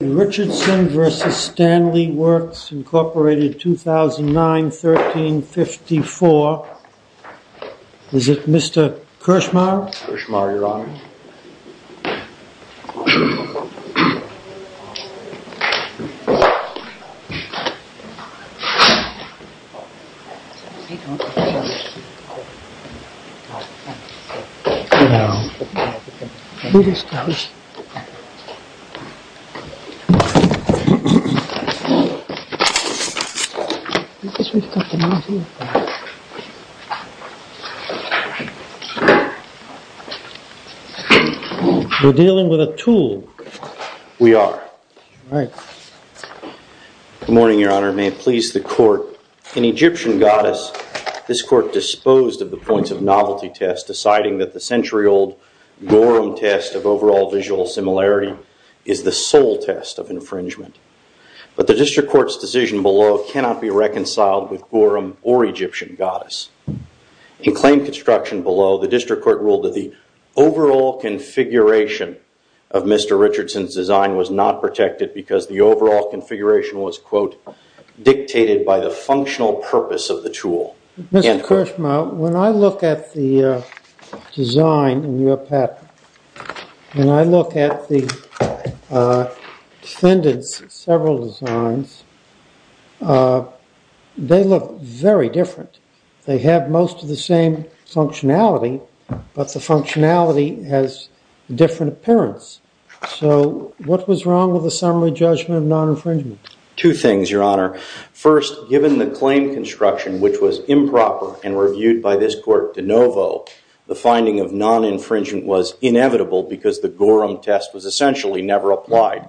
Richardson v. Stanley Works, Inc., 2009-13-54 Is it Mr. Kirshmaier? Kirshmaier, Your Honor. Hello. Read this to us. We're dealing with a tool. We are. All right. Good morning, Your Honor. May it please the Court. In Egyptian Goddess, this Court disposed of the points of novelty test, deciding that the century-old Gorham test of overall visual similarity is the sole test of infringement. But the District Court's decision below cannot be reconciled with Gorham or Egyptian Goddess. In claim construction below, the District Court ruled that the overall configuration of Mr. Richardson's design was not protected because the overall configuration was, quote, dictated by the functional purpose of the tool. Mr. Kirshmaier, when I look at the design in your patent, when I look at the defendants' several designs, they look very different. They have most of the same functionality, but the functionality has a different appearance. So what was wrong with the summary judgment of non-infringement? Two things, Your Honor. First, given the claim construction, which was improper and reviewed by this Court de novo, the finding of non-infringement was inevitable because the Gorham test was essentially never applied.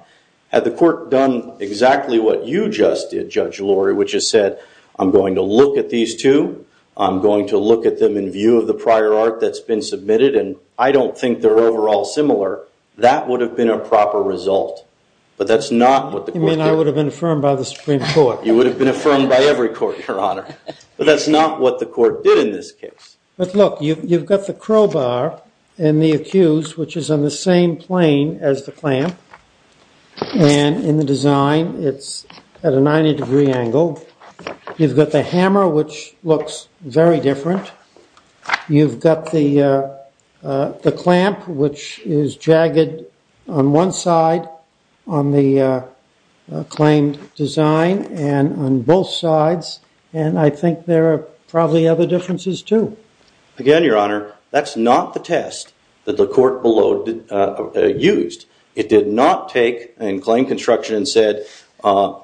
Had the Court done exactly what you just did, Judge Lurie, which is said, I'm going to look at these two, I'm going to look at them in view of the prior art that's been submitted, and I don't think they're overall similar, that would have been a proper result. But that's not what the Court did. You mean I would have been affirmed by the Supreme Court? You would have been affirmed by every court, Your Honor. But that's not what the Court did in this case. But look, you've got the crowbar in the accused, which is on the same plane as the clamp, and in the design, it's at a 90-degree angle. You've got the hammer, which looks very different. You've got the clamp, which is jagged on one side on the claimed design and on both sides. And I think there are probably other differences, too. Again, Your Honor, that's not the test that the Court below used. It did not take and claim construction and said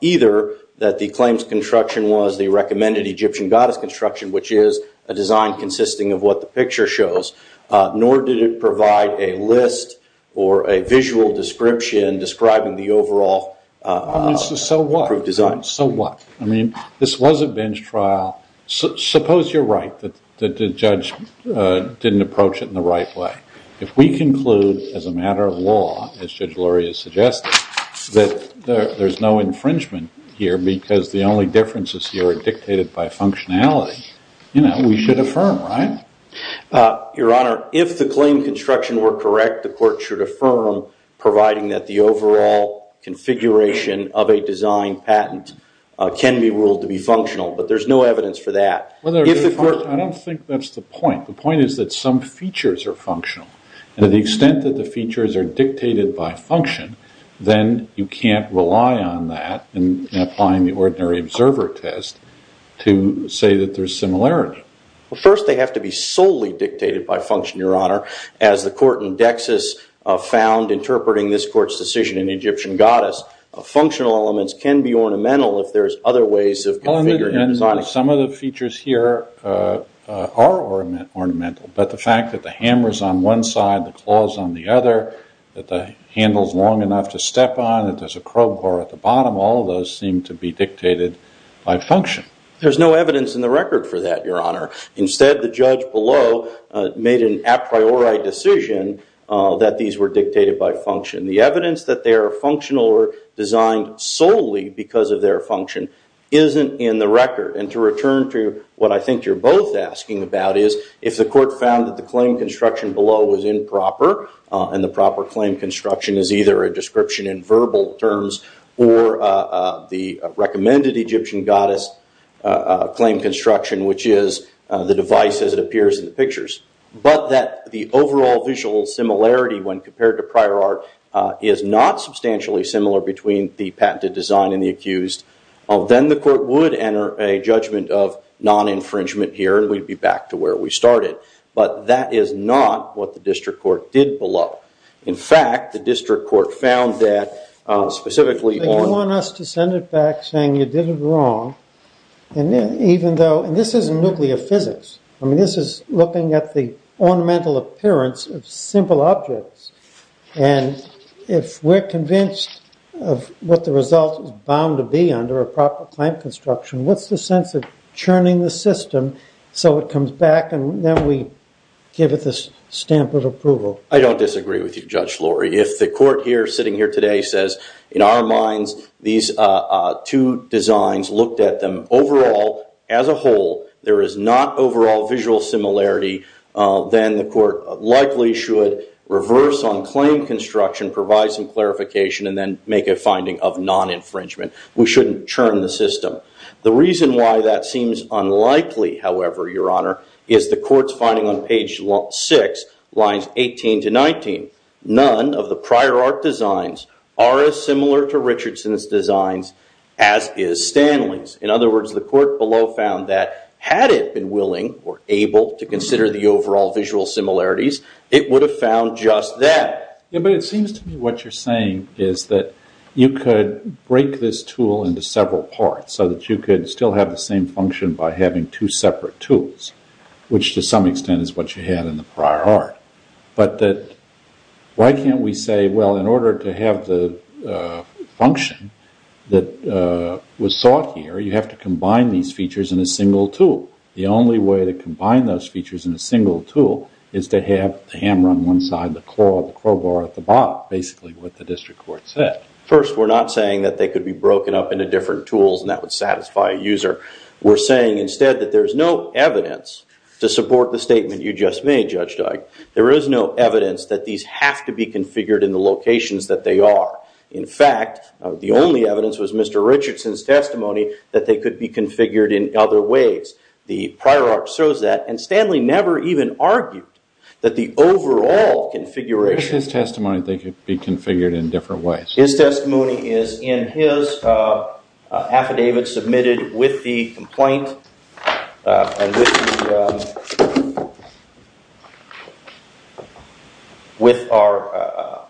either that the claims construction was the recommended Egyptian goddess construction, which is a design consisting of what the picture shows, nor did it provide a list or a visual description describing the overall design. So what? So what? I mean, this was a bench trial. Suppose you're right that the judge didn't approach it in the right way. If we conclude as a matter of law, as Judge Lurie has suggested, that there's no infringement here because the only differences here are dictated by functionality, we should affirm, right? Your Honor, if the claim construction were correct, the Court should affirm, providing that the overall configuration of a design patent can be ruled to be functional. But there's no evidence for that. I don't think that's the point. The point is that some features are functional. And to the extent that the features are dictated by function, then you can't rely on that in applying the ordinary observer test to say that there's similarity. Well, first, they have to be solely dictated by function, Your Honor. As the court in Dexus found interpreting this court's decision in Egyptian goddess, functional elements can be ornamental if there's other ways of configuring a design. Some of the features here are ornamental. But the fact that the hammer's on one side, the claw's on the other, that the handle's long enough to step on, that there's a crowbar at the bottom, all of those seem to be dictated by function. There's no evidence in the record for that, Your Honor. Instead, the judge below made an a priori decision that these were dictated by function. The evidence that they are functional or designed solely because of their function isn't in the record. And to return to what I think you're both asking about is if the court found that the claim construction below was improper, and the proper claim construction is either a description in verbal terms or the recommended Egyptian goddess claim construction, which is the device as it appears in the pictures, but that the overall visual similarity when compared to prior art is not substantially similar between the patented design and the accused, then the court would enter a judgment of non-infringement here, and we'd be back to where we started. But that is not what the district court did below. In fact, the district court found that specifically on- And this isn't nuclear physics. I mean, this is looking at the ornamental appearance of simple objects. And if we're convinced of what the result is bound to be under a proper claim construction, what's the sense of churning the system so it comes back and then we give it the stamp of approval? I don't disagree with you, Judge Lorry. If the court here sitting here today says, in our minds, these two designs looked at them overall as a whole, there is not overall visual similarity, then the court likely should reverse on claim construction, provide some clarification, and then make a finding of non-infringement. We shouldn't churn the system. The reason why that seems unlikely, however, Your Honor, is the court's finding on page 6, lines 18 to 19. None of the prior art designs are as similar to Richardson's designs as is Stanley's. In other words, the court below found that had it been willing or able to consider the overall visual similarities, it would have found just that. But it seems to me what you're saying is that you could break this tool into several parts so that you could still have the same function by having two separate tools, which to some extent is what you had in the prior art. But why can't we say, well, in order to have the function that was sought here, you have to combine these features in a single tool. The only way to combine those features in a single tool is to have the hammer on one side, the claw, the crowbar at the bottom, basically what the district court said. First, we're not saying that they could be broken up into different tools and that would satisfy a user. We're saying instead that there's no evidence to support the statement you just made, Judge Dyke. There is no evidence that these have to be configured in the locations that they are. In fact, the only evidence was Mr. Richardson's testimony that they could be configured in other ways. The prior art shows that, and Stanley never even argued that the overall configuration It was his testimony that they could be configured in different ways. His testimony is in his affidavit submitted with the complaint. With our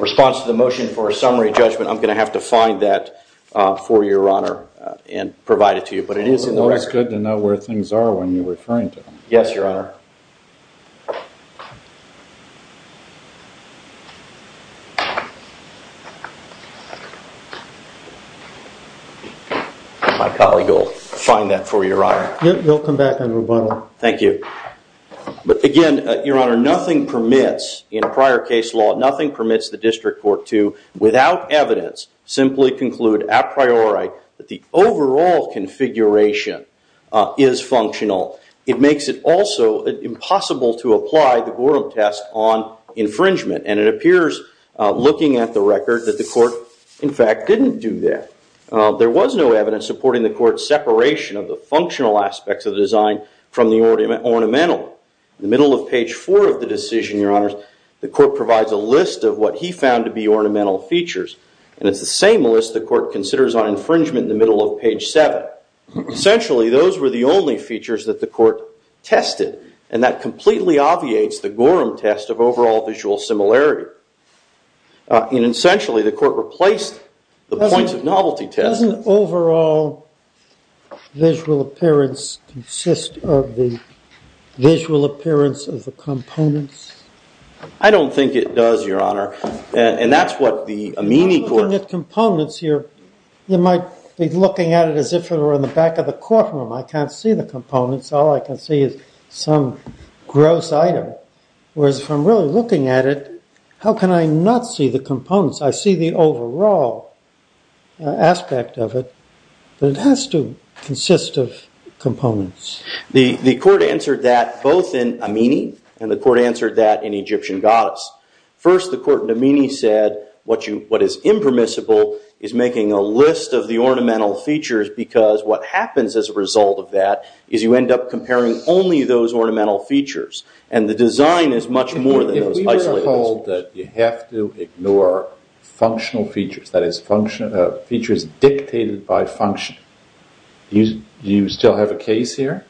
response to the motion for a summary judgment, I'm going to have to find that for your honor and provide it to you. But it is in the record. It's good to know where things are when you're referring to them. Yes, your honor. My colleague will find that for you, your honor. You'll come back and rebuttal. Thank you. But again, your honor, nothing permits in a prior case law, nothing permits the district court to, without evidence, simply conclude a priori that the overall configuration is functional. It makes it also impossible to apply the Gorham test on infringement. And it appears, looking at the record, that the court, in fact, didn't do that. There was no evidence supporting the court's separation of the functional aspects of the design from the ornamental. In the middle of page four of the decision, your honors, the court provides a list of what he found to be ornamental features. And it's the same list the court considers on infringement in the middle of page seven. Essentially, those were the only features that the court tested. And that completely obviates the Gorham test of overall visual similarity. And essentially, the court replaced the points of novelty test. Doesn't overall visual appearance consist of the visual appearance of the components? I don't think it does, your honor. Looking at components here, you might be looking at it as if it were in the back of the courtroom. I can't see the components. All I can see is some gross item. Whereas if I'm really looking at it, how can I not see the components? I see the overall aspect of it. But it has to consist of components. The court answered that both in Amini, and the court answered that in Egyptian goddess. First, the court in Amini said what is impermissible is making a list of the ornamental features because what happens as a result of that is you end up comparing only those ornamental features. And the design is much more than those isolated features. You have to ignore functional features, that is, features dictated by function. Do you still have a case here?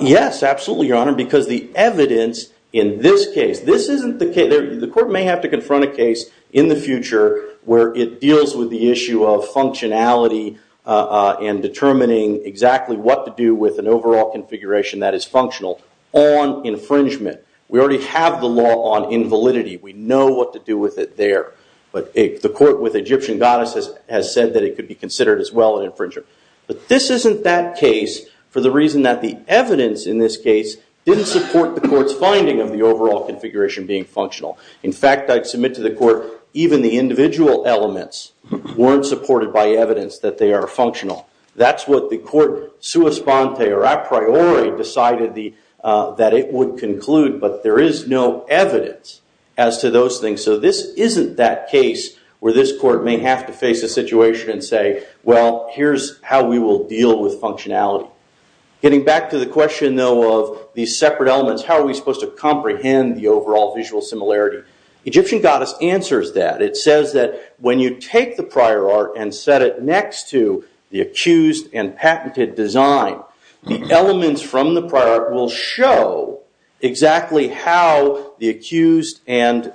Yes, absolutely, your honor, because the evidence in this case, the court may have to confront a case in the future where it deals with the issue of functionality and determining exactly what to do with an overall configuration that is functional on infringement. We already have the law on invalidity. We know what to do with it there. But the court with Egyptian goddess has said that it could be considered as well an infringer. But this isn't that case for the reason that the evidence in this case didn't support the court's finding of the overall configuration being functional. In fact, I'd submit to the court even the individual elements weren't supported by evidence that they are functional. That's what the court sua sponte or a priori decided that it would conclude, but there is no evidence as to those things. So this isn't that case where this court may have to face a situation and say, well, here's how we will deal with functionality. Getting back to the question, though, of these separate elements, how are we supposed to comprehend the overall visual similarity? Egyptian goddess answers that. It says that when you take the prior art and set it next to the accused and patented design, the elements from the prior art will show exactly how the accused and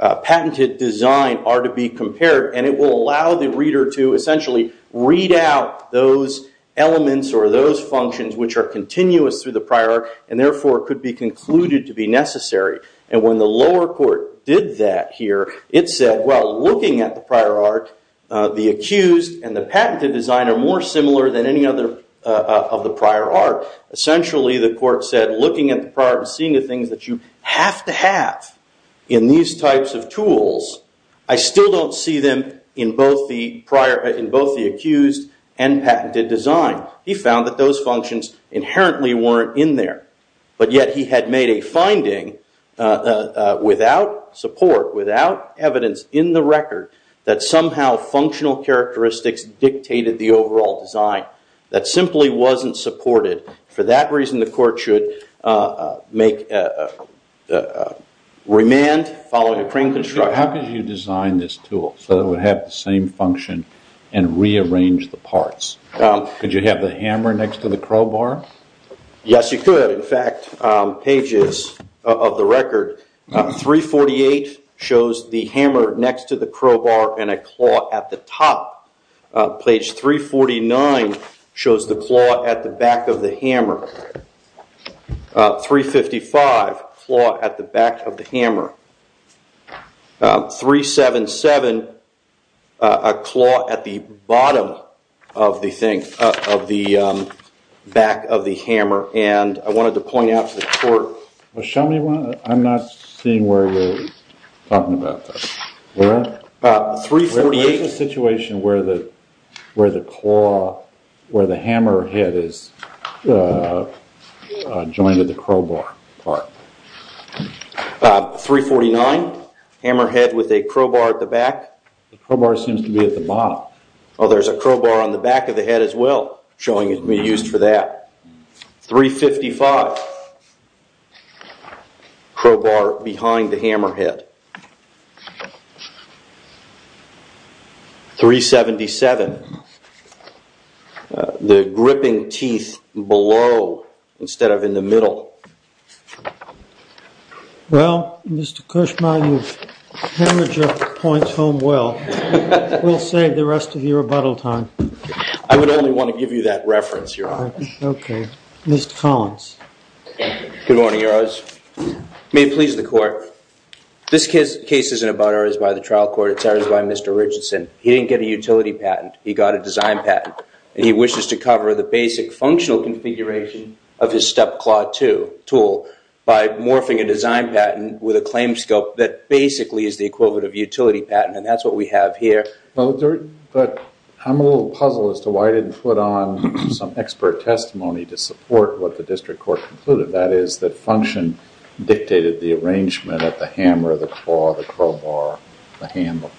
patented design are to be compared, and it will allow the reader to essentially read out those elements or those functions which are continuous through the prior art and therefore could be concluded to be necessary. And when the lower court did that here, it said, well, looking at the prior art, the accused and the patented design are more similar than any other of the prior art. Essentially, the court said, looking at the prior art and seeing the things that you have to have in these types of tools, I still don't see them in both the accused and patented design. He found that those functions inherently weren't in there. But yet he had made a finding without support, without evidence in the record, that somehow functional characteristics dictated the overall design. That simply wasn't supported. For that reason, the court should remand following a crane construction. How could you design this tool so it would have the same function and rearrange the parts? Could you have the hammer next to the crowbar? Yes, you could. In fact, pages of the record, 348 shows the hammer next to the crowbar and a claw at the top. Page 349 shows the claw at the back of the hammer. 355, claw at the back of the hammer. 377, a claw at the bottom of the thing, of the back of the hammer. And I wanted to point out to the court. Well, show me one. I'm not seeing where you're talking about this. Where is the situation where the hammer head is joined to the crowbar part? 349, hammer head with a crowbar at the back. The crowbar seems to be at the bottom. Oh, there's a crowbar on the back of the head as well. Showing it can be used for that. 355, crowbar behind the hammer head. 377, the gripping teeth below instead of in the middle. Well, Mr. Kushma, you've hammered your points home well. We'll save the rest of your rebuttal time. I would only want to give you that reference, Your Honor. Okay. Mr. Collins. Good morning, Your Honors. May it please the Court. This case isn't about errors by the trial court. It's errors by Mr. Richardson. He didn't get a utility patent. He got a design patent. And he wishes to cover the basic functional configuration of his step claw tool by morphing a design patent with a claim scope that basically is the equivalent of utility patent. And that's what we have here. But I'm a little puzzled as to why I didn't put on some expert testimony to support what the district court concluded, that is that function dictated the arrangement of the hammer, the claw, the crowbar, the handle.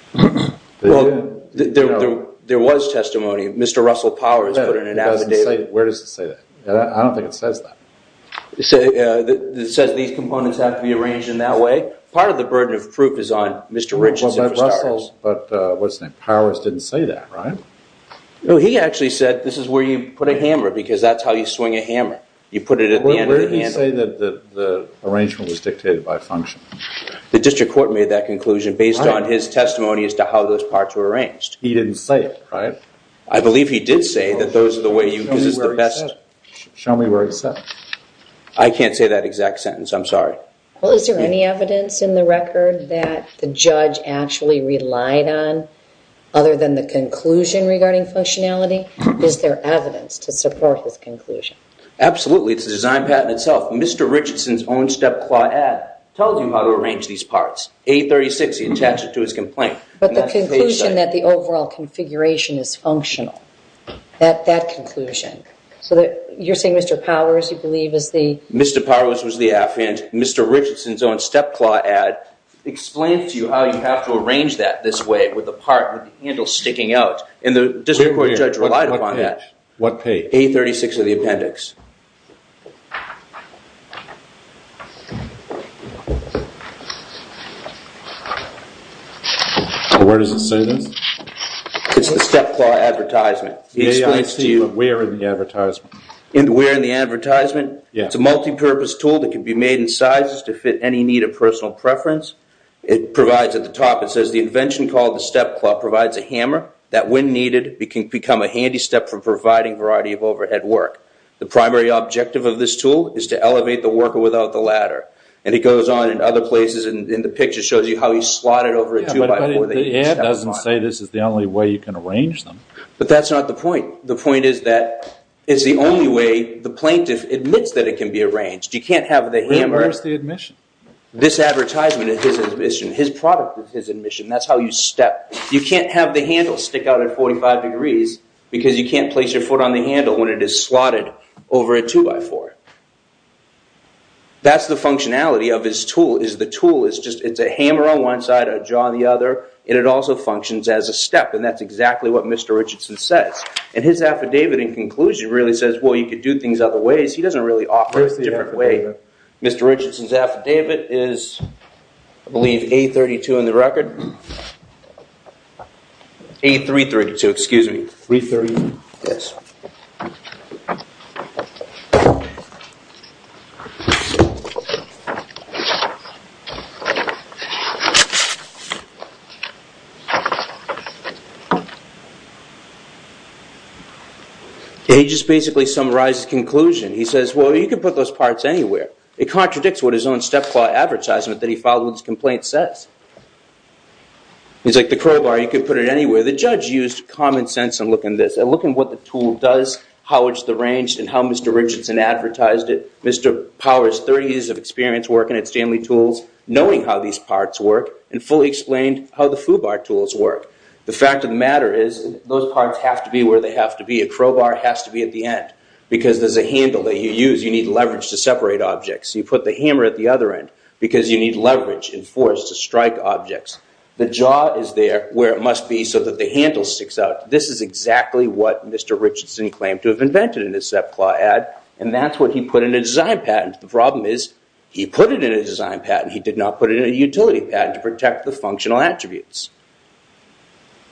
Well, there was testimony. Mr. Russell Powers put in an affidavit. Where does it say that? I don't think it says that. It says these components have to be arranged in that way. Part of the burden of proof is on Mr. Richardson for starters. Powers didn't say that, right? No, he actually said this is where you put a hammer because that's how you swing a hammer. You put it at the end of the handle. Where did he say that the arrangement was dictated by function? The district court made that conclusion based on his testimony as to how those parts were arranged. He didn't say it, right? I believe he did say that those are the way you use the best. Show me where he said it. I can't say that exact sentence. I'm sorry. Well, is there any evidence in the record that the judge actually relied on other than the conclusion regarding functionality? Is there evidence to support his conclusion? Absolutely. It's the design patent itself. Mr. Richardson's own step-claw ad tells you how to arrange these parts. 836, he attached it to his complaint. But the conclusion that the overall configuration is functional, that conclusion. So you're saying Mr. Powers, you believe, is the... Mr. Richardson's own step-claw ad explains to you how you have to arrange that this way with the part with the handle sticking out. And the district court judge relied upon that. What page? 836 of the appendix. Where does it say this? It's the step-claw advertisement. May I see where in the advertisement? Where in the advertisement? Yes. It's a multi-purpose tool that can be made in sizes to fit any need of personal preference. It provides at the top, it says, the invention called the step-claw provides a hammer that, when needed, can become a handy step for providing a variety of overhead work. The primary objective of this tool is to elevate the worker without the ladder. And it goes on in other places. And the picture shows you how he slotted over a two-by-four. But the ad doesn't say this is the only way you can arrange them. But that's not the point. The point is that it's the only way the plaintiff admits that it can be arranged. You can't have the hammer. Where's the admission? This advertisement is his admission. His product is his admission. That's how you step. You can't have the handle stick out at 45 degrees because you can't place your foot on the handle when it is slotted over a two-by-four. That's the functionality of this tool, is the tool is just, it's a hammer on one side, a jaw on the other, and it also functions as a step. And that's exactly what Mr. Richardson says. And his affidavit in conclusion really says, well, you could do things other ways. He doesn't really offer a different way. Where's the affidavit? Mr. Richardson's affidavit is, I believe, A32 in the record. A332, excuse me. 330? Yes. And he just basically summarizes the conclusion. He says, well, you could put those parts anywhere. It contradicts what his own step-claw advertisement that he filed with his complaint says. He's like, the crowbar, you could put it anywhere. The judge used common sense in looking at this, and looking at what the tool does, how it's arranged, and how Mr. Richardson advertised it. Mr. Powers, 30 years of experience working at Stanley Tools, knowing how these parts work, and fully explained how the FUBAR tools work. The fact of the matter is, those parts have to be where they have to be. A crowbar has to be at the end. Because there's a handle that you use, you need leverage to separate objects. You put the hammer at the other end because you need leverage and force to strike objects. The jaw is there where it must be so that the handle sticks out. This is exactly what Mr. Richardson claimed to have invented in his step-claw ad. And that's what he put in a design patent. The problem is, he put it in a design patent. He did not put it in a utility patent to protect the functional attributes.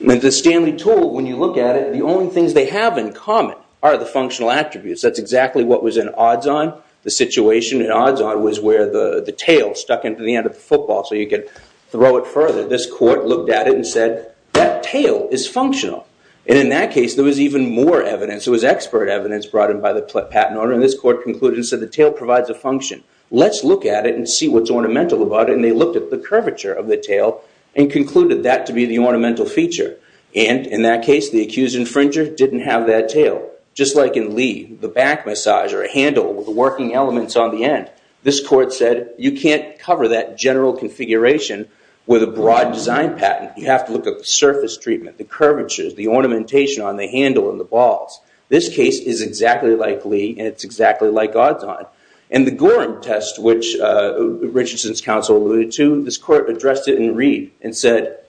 The Stanley Tool, when you look at it, the only things they have in common are the functional attributes. That's exactly what was in Odds-On. The situation in Odds-On was where the tail stuck into the end of the football so you could throw it further. This court looked at it and said, that tail is functional. And in that case, there was even more evidence. There was expert evidence brought in by the patent owner. And this court concluded and said, the tail provides a function. Let's look at it and see what's ornamental about it. And they looked at the curvature of the tail and concluded that to be the ornamental feature. And in that case, the accused infringer didn't have that tail. Just like in Lee, the back massage or a handle with the working elements on the end. This court said, you can't cover that general configuration with a broad design patent. You have to look at the surface treatment, the curvatures, the ornamentation on the handle and the balls. This case is exactly like Lee, and it's exactly like Odds-On. And the Gorham test, which Richardson's counsel alluded to, this court addressed it in Reed and said,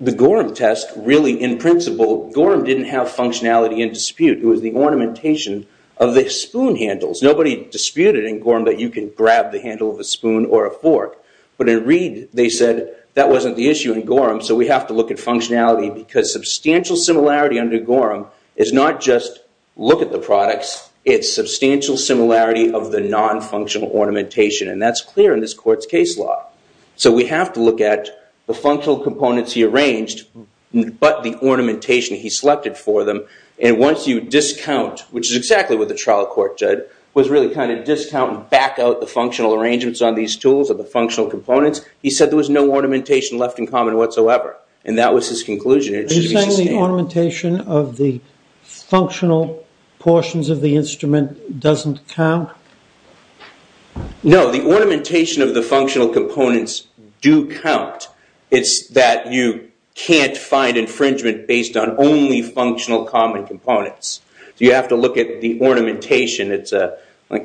the Gorham test, really in principle, Gorham didn't have functionality in dispute. It was the ornamentation of the spoon handles. Nobody disputed in Gorham that you can grab the handle of a spoon or a fork. But in Reed, they said, that wasn't the issue in Gorham, so we have to look at functionality. Because substantial similarity under Gorham is not just look at the products. It's substantial similarity of the non-functional ornamentation. And that's clear in this court's case law. So we have to look at the functional components he arranged, but the ornamentation he selected for them. And once you discount, which is exactly what the trial court did, was really kind of discount and back out the functional arrangements on these tools or the functional components. He said there was no ornamentation left in common whatsoever. And that was his conclusion. Are you saying the ornamentation of the functional portions of the instrument doesn't count? No, the ornamentation of the functional components do count. It's that you can't find infringement based on only functional common components. So you have to look at the ornamentation.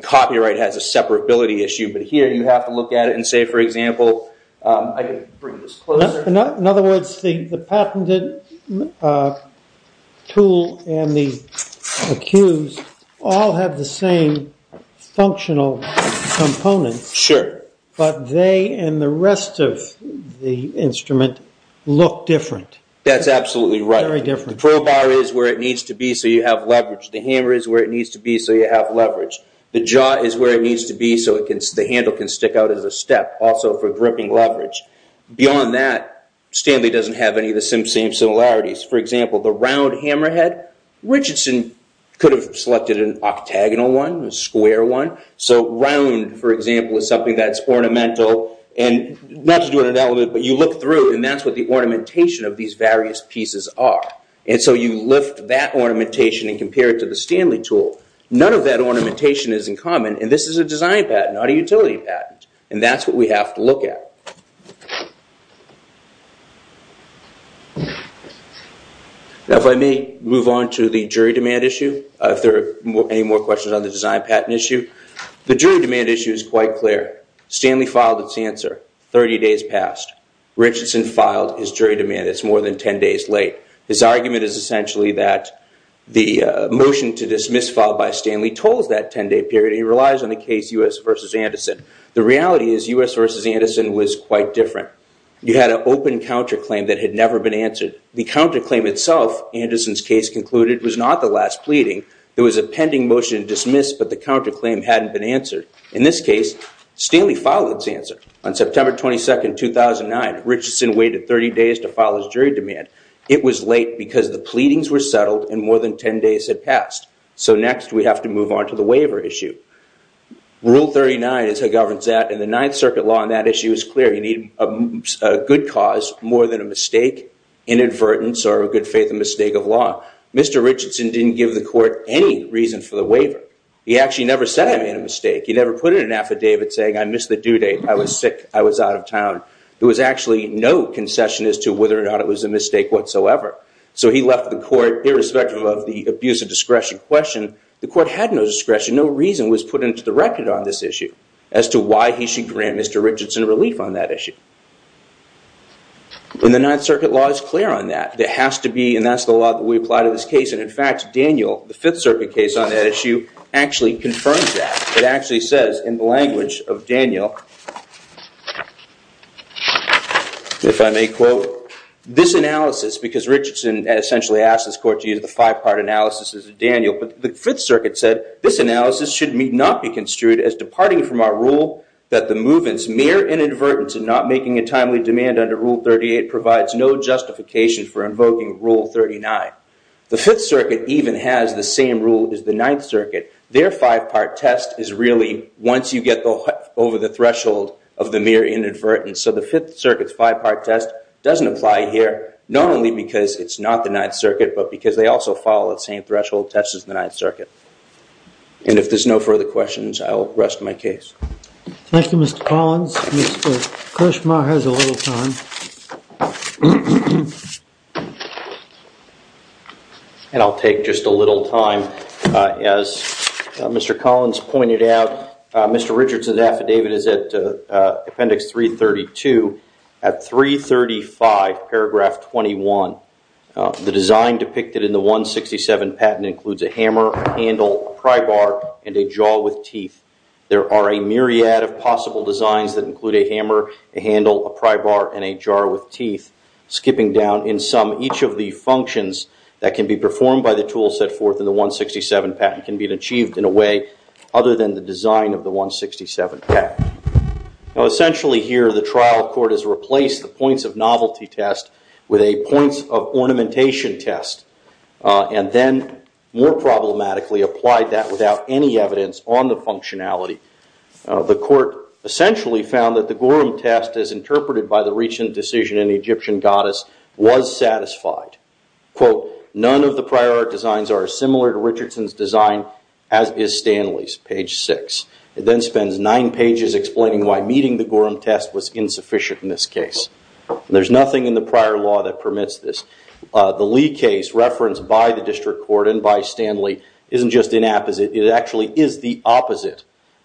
Copyright has a separability issue. But here, you have to look at it and say, for example, I can bring this closer. In other words, the patented tool and the accused all have the same functional components. Sure. But they and the rest of the instrument look different. That's absolutely right. Very different. The crowbar is where it needs to be so you have leverage. The hammer is where it needs to be so you have leverage. The jaw is where it needs to be so the handle can stick out as a step, also for gripping leverage. Beyond that, Stanley doesn't have any of the same similarities. For example, the round hammerhead, Richardson could have selected an octagonal one, a square one. So round, for example, is something that's ornamental. And not to do an analogy, but you look through and that's what the ornamentation of these various pieces are. And so you lift that ornamentation and compare it to the Stanley tool. None of that ornamentation is in common. And this is a design patent, not a utility patent. And that's what we have to look at. Now if I may move on to the jury demand issue, if there are any more questions on the design patent issue. The jury demand issue is quite clear. Stanley filed its answer 30 days past. Richardson filed his jury demand. It's more than 10 days late. His argument is essentially that the motion to dismiss filed by Stanley tolls that 10-day period. He relies on the case U.S. v. Anderson. The reality is U.S. v. Anderson was quite different. You had an open counterclaim that had never been answered. The counterclaim itself, Anderson's case concluded, was not the last pleading. There was a pending motion to dismiss, but the counterclaim hadn't been answered. In this case, Stanley filed its answer. On September 22, 2009, Richardson waited 30 days to file his jury demand. It was late because the pleadings were settled and more than 10 days had passed. So next we have to move on to the waiver issue. Rule 39 is how it governs that, and the Ninth Circuit law on that issue is clear. You need a good cause more than a mistake, inadvertence, or a good faith mistake of law. Mr. Richardson didn't give the court any reason for the waiver. He actually never said he made a mistake. He never put in an affidavit saying, I missed the due date, I was sick, I was out of town. There was actually no concession as to whether or not it was a mistake whatsoever. So he left the court, irrespective of the abuse of discretion question. The court had no discretion. No reason was put into the record on this issue as to why he should grant Mr. Richardson relief on that issue. And the Ninth Circuit law is clear on that. There has to be, and that's the law that we apply to this case. And in fact, Daniel, the Fifth Circuit case on that issue, actually confirms that. It actually says in the language of Daniel, if I may quote, this analysis, because Richardson essentially asked this court to use the five-part analysis as Daniel, but the Fifth Circuit said, this analysis should not be construed as departing from our rule that the movement's mere inadvertence in not making a timely demand under Rule 38 provides no justification for invoking Rule 39. The Fifth Circuit even has the same rule as the Ninth Circuit. Their five-part test is really once you get over the threshold of the mere inadvertence. So the Fifth Circuit's five-part test doesn't apply here, not only because it's not the Ninth Circuit, but because they also follow the same threshold test as the Ninth Circuit. And if there's no further questions, I'll rest my case. Thank you, Mr. Collins. Mr. Krushma has a little time. And I'll take just a little time. As Mr. Collins pointed out, Mr. Richardson's affidavit is at Appendix 332, at 335, Paragraph 21. The design depicted in the 167 patent includes a hammer, a handle, a pry bar, and a jaw with teeth. There are a myriad of possible designs that include a hammer, a handle, a pry bar, and a jaw with teeth. Skipping down in sum, each of the functions that can be performed by the tool set forth in the 167 patent can be achieved in a way other than the design of the 167 patent. Now, essentially here, the trial court has replaced the points of novelty test with a points of ornamentation test, and then more problematically applied that without any evidence on the functionality. The court essentially found that the Gorham test, as interpreted by the recent decision in Egyptian Goddess, was satisfied. Quote, none of the prior art designs are similar to Richardson's design, as is Stanley's. Page 6. It then spends nine pages explaining why meeting the Gorham test was insufficient in this case. There's nothing in the prior law that permits this. The Lee case referenced by the district court and by Stanley isn't just inapposite. It actually is the opposite.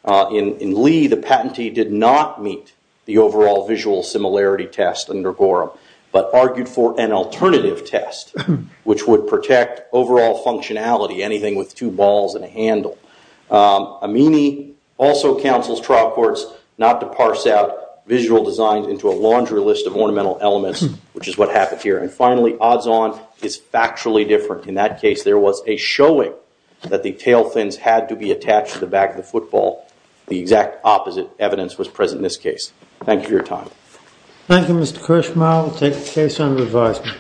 In Lee, the patentee did not meet the overall visual similarity test under Gorham, but argued for an alternative test which would protect overall functionality, anything with two balls and a handle. Amini also counsels trial courts not to parse out visual designs into a laundry list of ornamental elements, which is what happened here. And finally, odds on is factually different. In that case, there was a showing that the tail fins had to be attached to the back of the football. The exact opposite evidence was present in this case. Thank you for your time. Thank you, Mr. Kirshmaier. We'll take the case under advisement.